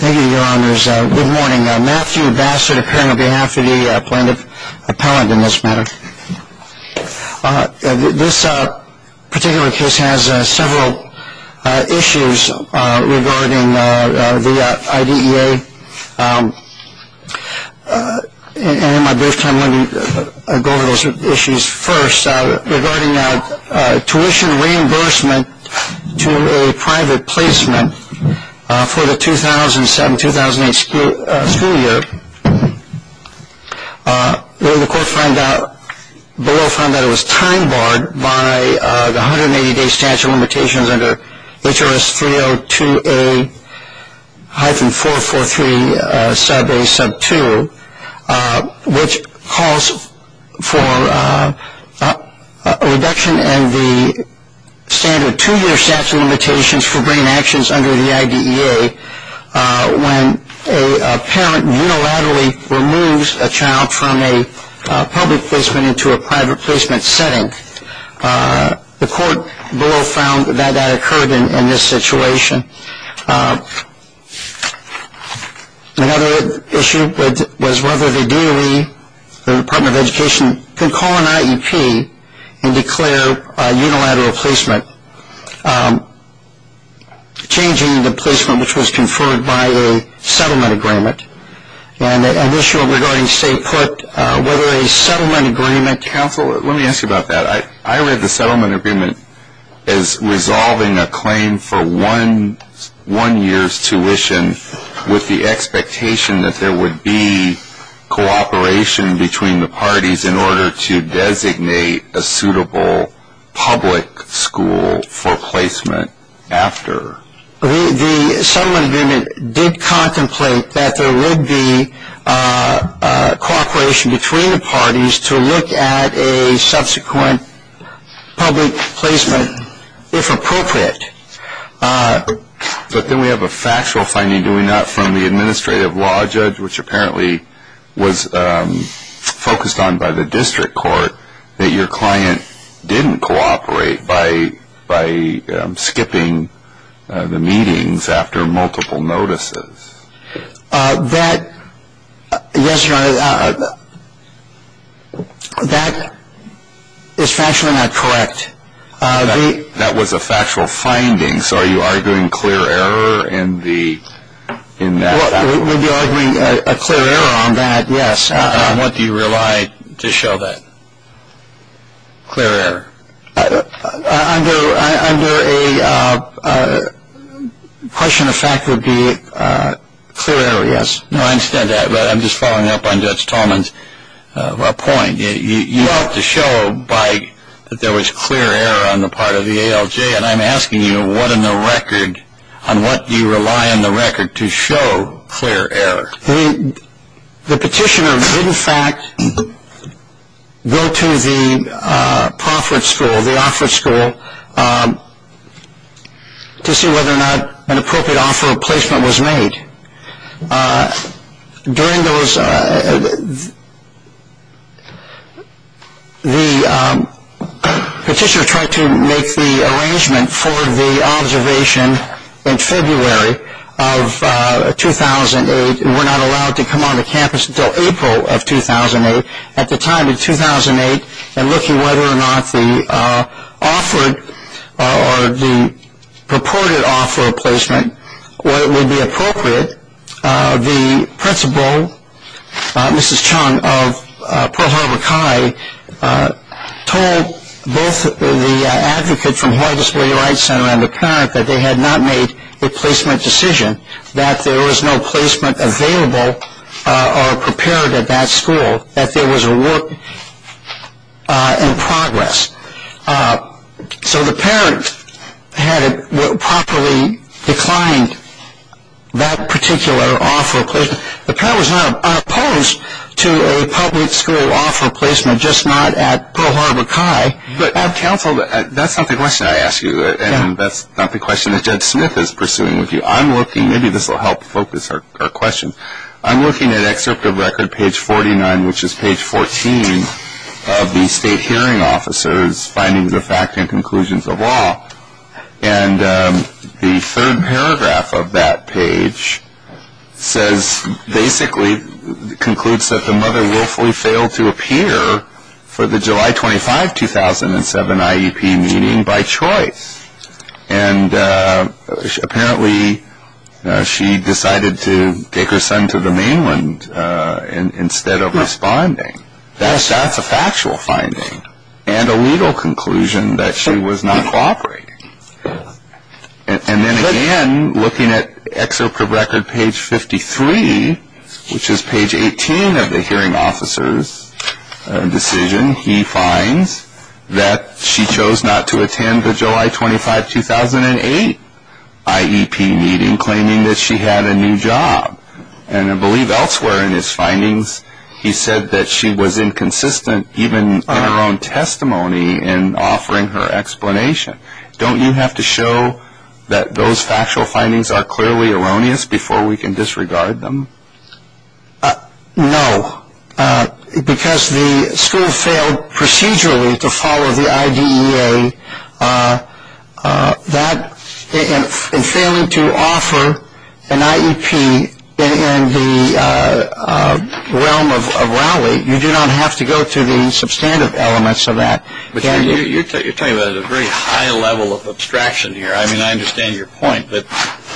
Thank you, Your Honors. Good morning. Matthew Bassett, appearing on behalf of the Appellant in this matter. This particular case has several issues regarding the IDEA. And in my brief time, let me go over those issues first. First, regarding a tuition reimbursement to a private placement for the 2007-2008 school year, the court found out, the law found that it was time barred by the 180-day statute of limitations under HRS 302A-443 Sub A Sub 2, which calls for a reduction in the standard two-year statute of limitations for brain actions under the IDEA when a parent unilaterally removes a child from a public placement into a private placement setting. The court below found that that occurred in this situation. Another issue was whether the DOE, the Department of Education, can call an IEP and declare a unilateral placement, changing the placement which was conferred by a settlement agreement. And an issue regarding, say, put whether a settlement agreement counsel one year's tuition with the expectation that there would be cooperation between the parties in order to designate a suitable public school for placement after. The settlement agreement did contemplate that there would be cooperation between the parties to look at a subsequent public placement, if appropriate. But then we have a factual finding, do we not, from the administrative law judge, which apparently was focused on by the district court, that your client didn't cooperate by skipping the meetings after multiple notices. That, yes, Your Honor, that is factually not correct. That was a factual finding, so are you arguing clear error in that fact? We'd be arguing a clear error on that, yes. And on what do you rely to show that clear error? Under a question of fact would be clear error, yes. No, I understand that, but I'm just following up on Judge Tallman's point. You ought to show that there was clear error on the part of the ALJ, and I'm asking you on what do you rely on the record to show clear error? The petitioner did, in fact, go to the proffered school, the offered school, to see whether or not an appropriate offer of placement was made. During those, the petitioner tried to make the arrangement for the observation in February of 2008, that we're not allowed to come on to campus until April of 2008. At the time in 2008, in looking whether or not the offered or the purported offer of placement would be appropriate, the principal, Mrs. Chung of Pearl Harbor High, told both the advocate from Hawaii Disability Rights Center and the parent that they had not made a placement decision, that there was no placement available or prepared at that school, that there was a work in progress. So the parent had properly declined that particular offer of placement. The parent was not opposed to a public school offer of placement, just not at Pearl Harbor High. But counsel, that's not the question I ask you, and that's not the question that Judge Smith is pursuing with you. I'm looking, maybe this will help focus our question, I'm looking at excerpt of record page 49, which is page 14, of the state hearing officer's findings of fact and conclusions of law, and the third paragraph of that page says, basically concludes that the mother willfully failed to appear for the July 25, 2007 IEP meeting by choice. And apparently she decided to take her son to the mainland instead of responding. That's a factual finding, and a legal conclusion that she was not cooperating. And then again, looking at excerpt of record page 53, which is page 18 of the hearing officer's decision, he finds that she chose not to attend the July 25, 2008 IEP meeting, claiming that she had a new job. And I believe elsewhere in his findings, he said that she was inconsistent even in her own testimony in offering her explanation. Don't you have to show that those factual findings are clearly erroneous before we can disregard them? No. Because the school failed procedurally to follow the IDEA, and failing to offer an IEP in the realm of Rowley, you do not have to go to the substantive elements of that. You're talking about a very high level of abstraction here. I mean, I understand your point, but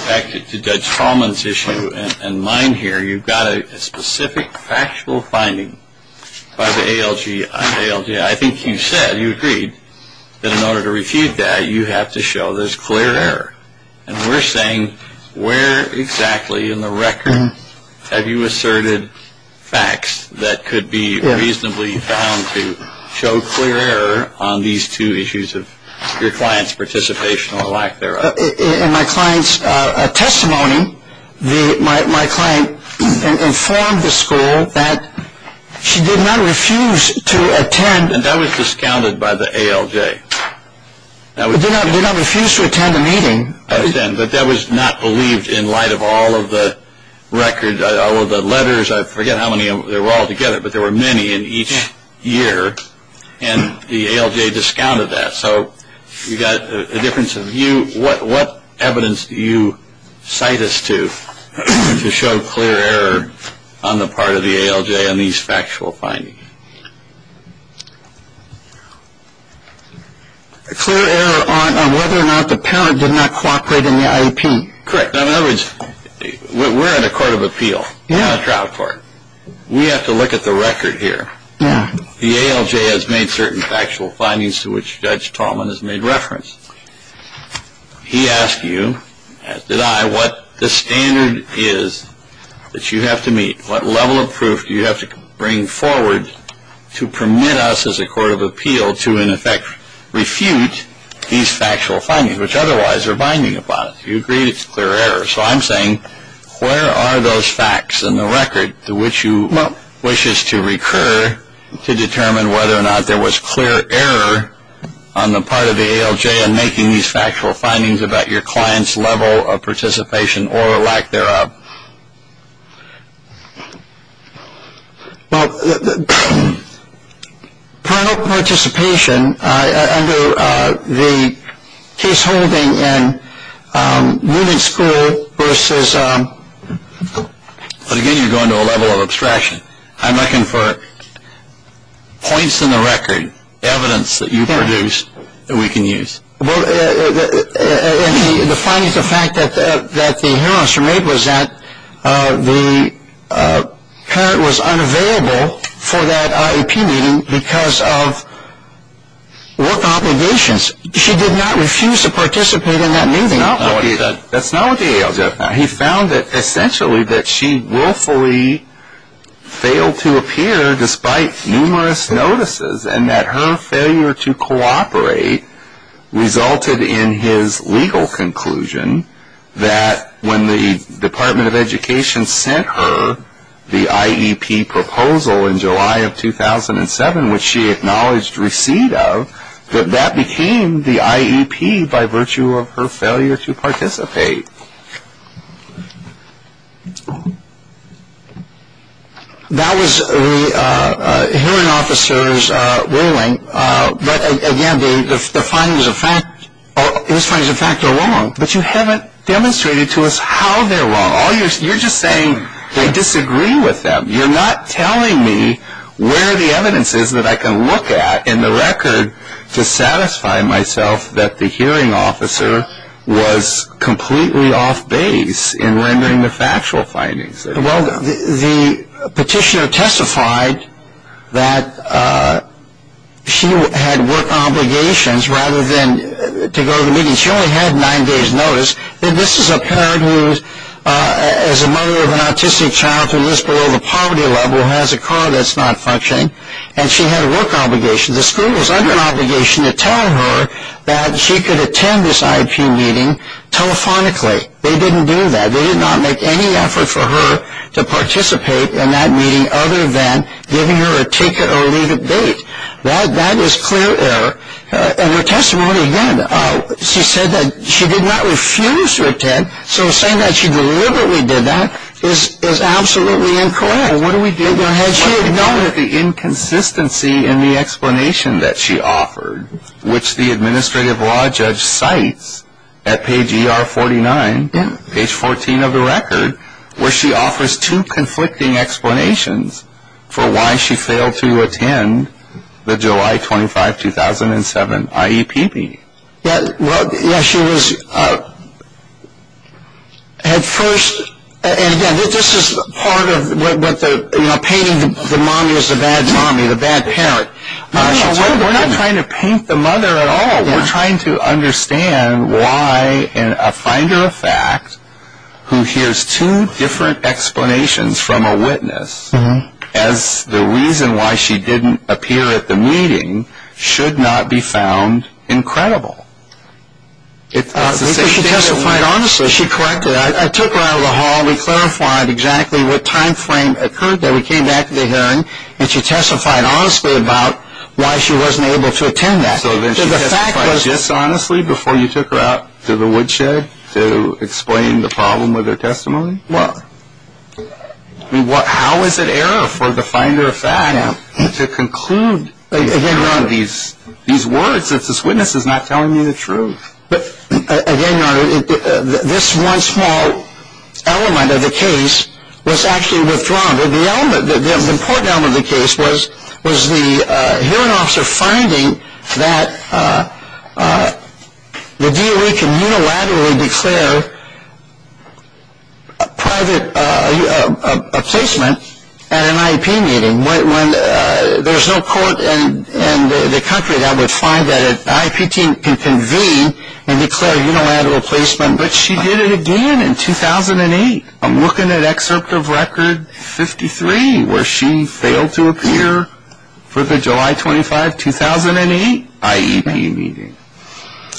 back to Judge Hallman's issue and mine here, you've got a specific factual finding by the ALGA. I think you said, you agreed, that in order to refute that, you have to show there's clear error. And we're saying where exactly in the record have you asserted facts that could be reasonably found to show clear error on these two issues of your client's participation or lack thereof. In my client's testimony, my client informed the school that she did not refuse to attend. And that was discounted by the ALGA. She did not refuse to attend a meeting. But that was not believed in light of all of the records, all of the letters. I forget how many there were altogether, but there were many in each year. And the ALGA discounted that. So you've got a difference of view. What evidence do you cite us to to show clear error on the part of the ALGA on these factual findings? A clear error on whether or not the parent did not cooperate in the IEP. Correct. In other words, we're in a court of appeal, not a trial court. We have to look at the record here. The ALGA has made certain factual findings to which Judge Tallman has made reference. He asked you, as did I, what the standard is that you have to meet, what level of proof do you have to bring forward to permit us as a court of appeal to in effect refute these factual findings, which otherwise are binding upon it. You agreed it's clear error. So I'm saying where are those facts in the record to which you wish us to recur to determine whether or not there was clear error on the part of the ALGA in making these factual findings about your client's level of participation or lack thereof? Well, parental participation under the case holding in women's school versus... But again, you're going to a level of abstraction. I'm looking for points in the record, evidence that you produced that we can use. Well, the findings, the fact that the hearing was made was that the parent was unavailable for that IEP meeting because of work obligations. She did not refuse to participate in that meeting. That's not what the ALGA. He found that essentially that she willfully failed to appear despite numerous notices and that her failure to cooperate resulted in his legal conclusion that when the Department of Education sent her the IEP proposal in July of 2007, which she acknowledged receipt of, that that became the IEP by virtue of her failure to participate. That was the hearing officer's ruling. But again, the findings of fact are wrong, but you haven't demonstrated to us how they're wrong. You're just saying they disagree with them. You're not telling me where the evidence is that I can look at in the record to satisfy myself that the hearing officer was completely off base in rendering the factual findings. Well, the petitioner testified that she had work obligations rather than to go to the meeting. She only had nine days' notice. And this is a parent who is a mother of an autistic child who lives below the poverty level, has a car that's not functioning, and she had work obligations. The school was under obligation to tell her that she could attend this IEP meeting telephonically. They didn't do that. They did not make any effort for her to participate in that meeting other than giving her a ticket or a leave of bait. That is clear error. And her testimony, again, she said that she did not refuse to attend, so saying that she deliberately did that is absolutely incorrect. She had noted the inconsistency in the explanation that she offered, which the administrative law judge cites at page ER 49, page 14 of the record, where she offers two conflicting explanations for why she failed to attend the July 25, 2007, IEP meeting. Yeah, she was at first, and again, this is part of what the, you know, painting the mommy as the bad mommy, the bad parent. No, no, we're not trying to paint the mother at all. We're trying to understand why a finder of fact who hears two different explanations from a witness as the reason why she didn't appear at the meeting should not be found incredible. She testified honestly. She corrected. I took her out of the hall. We clarified exactly what time frame occurred there. We came back to the hearing, and she testified honestly about why she wasn't able to attend that. So then she testified dishonestly before you took her out to the woodshed to explain the problem with her testimony? Well. I mean, how is it error for the finder of fact to conclude these words if this witness is not telling you the truth? Again, Your Honor, this one small element of the case was actually withdrawn. The important element of the case was the hearing officer finding that the DOE can unilaterally declare private placement at an IEP meeting. There's no court in the country that would find that an IEP team can convene and declare unilateral placement. But she did it again in 2008. I'm looking at Excerpt of Record 53 where she failed to appear for the July 25, 2008, IEP meeting.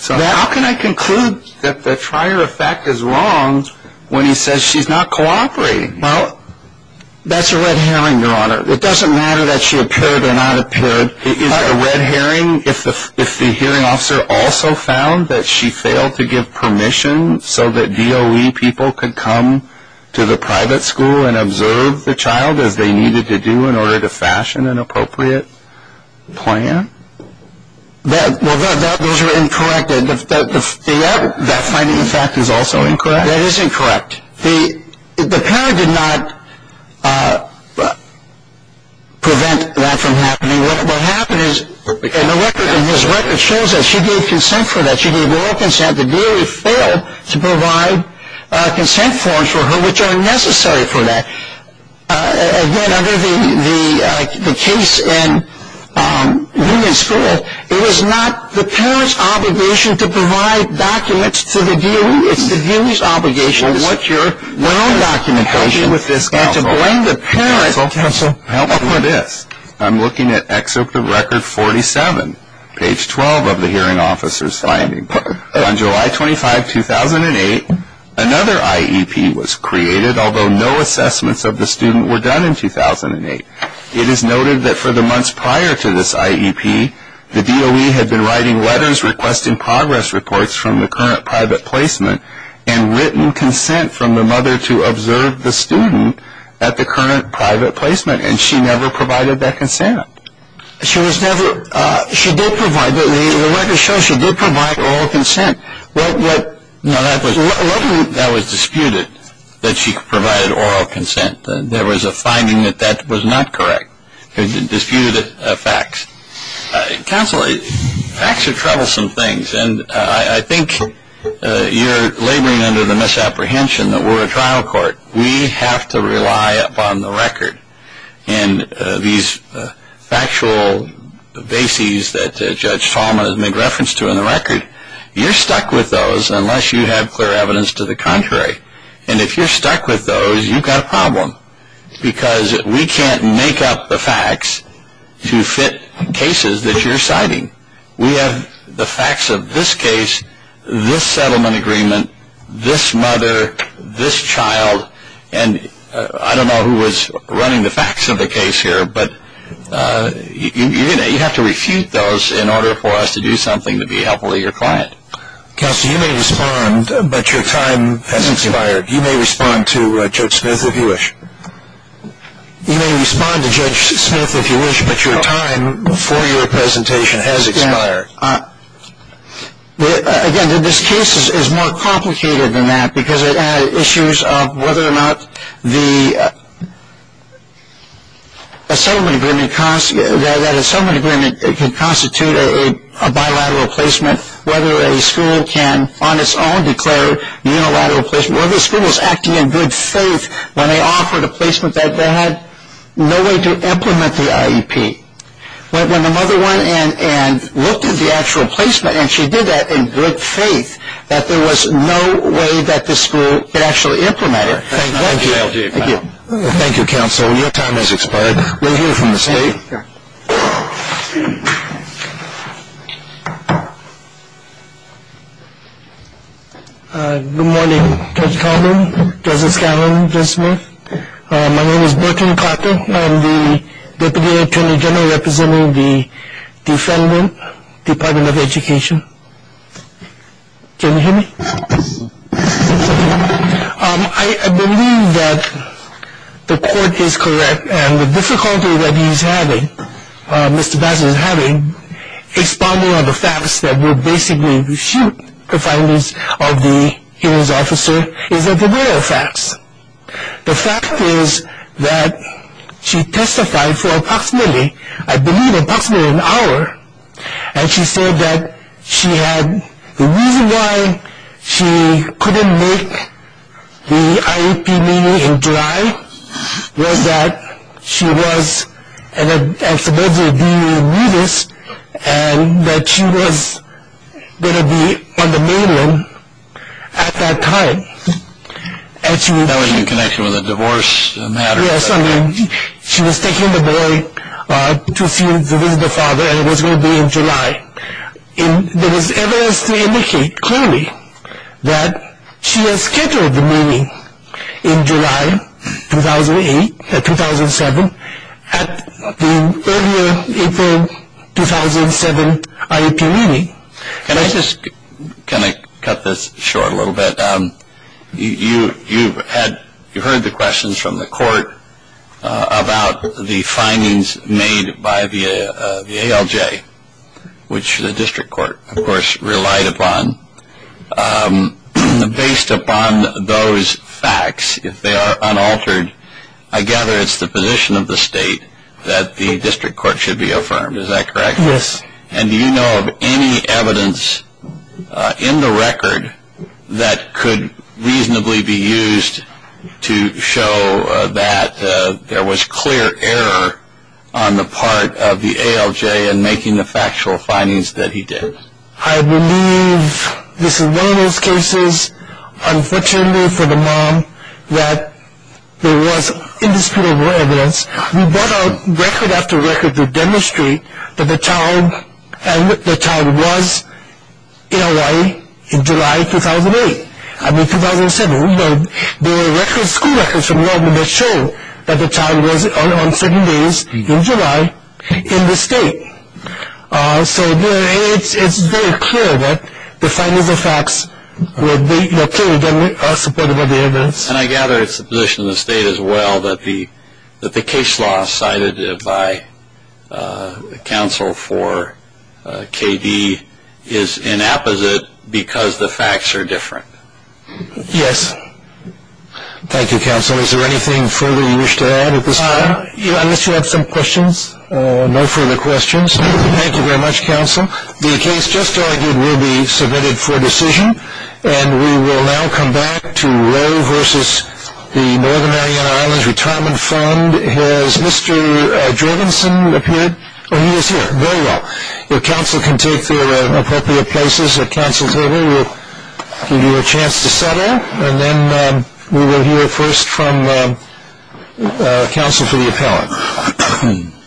How can I conclude that the trier of fact is wrong when he says she's not cooperating? Well, that's a red herring, Your Honor. It doesn't matter that she appeared or not appeared. Is it a red herring if the hearing officer also found that she failed to give permission so that DOE people could come to the private school and observe the child as they needed to do in order to fashion an appropriate plan? Well, those are incorrect. That finding of fact is also incorrect? That is incorrect. The parent did not prevent that from happening. What happened is in the record, in his record, shows that she gave consent for that. She gave royal consent. The DOE failed to provide consent forms for her which are necessary for that. Again, under the case in Union School, it was not the parent's obligation to provide documents to the DOE. It's the DOE's obligation to work your own documentation and to blame the parent. Counsel, counsel, help me with this. I'm looking at excerpt of record 47, page 12 of the hearing officer's finding book. On July 25, 2008, another IEP was created, although no assessments of the student were done in 2008. It is noted that for the months prior to this IEP, the DOE had been writing letters requesting progress reports from the current private placement and written consent from the mother to observe the student at the current private placement, and she never provided that consent. The record shows she did provide oral consent. That was disputed, that she provided oral consent. There was a finding that that was not correct. It disputed facts. Counsel, facts are troublesome things, and I think you're laboring under the misapprehension that we're a trial court. We have to rely upon the record, and these factual bases that Judge Fallman has made reference to in the record, you're stuck with those unless you have clear evidence to the contrary, and if you're stuck with those, you've got a problem because we can't make up the facts to fit cases that you're citing. We have the facts of this case, this settlement agreement, this mother, this child, and I don't know who was running the facts of the case here, but you have to refute those in order for us to do something to be helpful to your client. Counsel, you may respond, but your time has expired. You may respond to Judge Smith if you wish. You may respond to Judge Smith if you wish, but your time for your presentation has expired. Again, this case is more complicated than that because it had issues of whether or not that a settlement agreement can constitute a bilateral placement, whether a school can, on its own, declare unilateral placement, whether the school was acting in good faith when they offered a placement that they had no way to implement the IEP. When the mother went in and looked at the actual placement and she did that in good faith that there was no way that the school could actually implement it. Thank you. Thank you, Counsel. Your time has expired. We'll hear from the State. Thank you. Good morning, Judge Taubman, Judge Scanlon, Judge Smith. My name is Burton Carter. I'm the Deputy Attorney General representing the defendant, Department of Education. Can you hear me? I believe that the court is correct and the difficulty that he's having, Mr. Bassett is having, is following up the facts that will basically refute the findings of the hearing's officer, is that there were no facts. The fact is that she testified for approximately, I believe approximately an hour, and she said that she had, the reason why she couldn't make the IEP meeting in July was that she was, and supposedly being a nudist, and that she was going to be on the mainland at that time. That was in connection with a divorce matter. Yes, I mean she was taking the boy to see the visitor father and it was going to be in July. There was evidence to indicate clearly that she had scheduled the meeting in July 2008, 2007, at the earlier April 2007 IEP meeting. Can I just, can I cut this short a little bit? You heard the questions from the court about the findings made by the ALJ, which the district court, of course, relied upon. Based upon those facts, if they are unaltered, I gather it's the position of the state that the district court should be affirmed, is that correct? Yes. And do you know of any evidence in the record that could reasonably be used to show that there was clear error on the part of the ALJ in making the factual findings that he did? I believe this is one of those cases, unfortunately for the mom, that there was indisputable evidence. We brought out record after record to demonstrate that the child was in Hawaii in July 2008. I mean 2007. There were school records from Norman that show that the child was on certain days in July in the state. So it's very clear that the findings and facts were clearly supported by the evidence. And I gather it's the position of the state, as well, that the case law cited by counsel for KD is inapposite because the facts are different. Yes. Thank you, counsel. Is there anything further you wish to add at this point? Unless you have some questions. No further questions. Thank you very much, counsel. The case just argued will be submitted for decision, and we will now come back to Roe versus the Northern Mariana Islands Retirement Fund. Has Mr. Jorgensen appeared? Oh, he is here. Very well. If counsel can take their appropriate places at counsel's table, we'll give you a chance to settle, and then we will hear first from counsel for the appellant.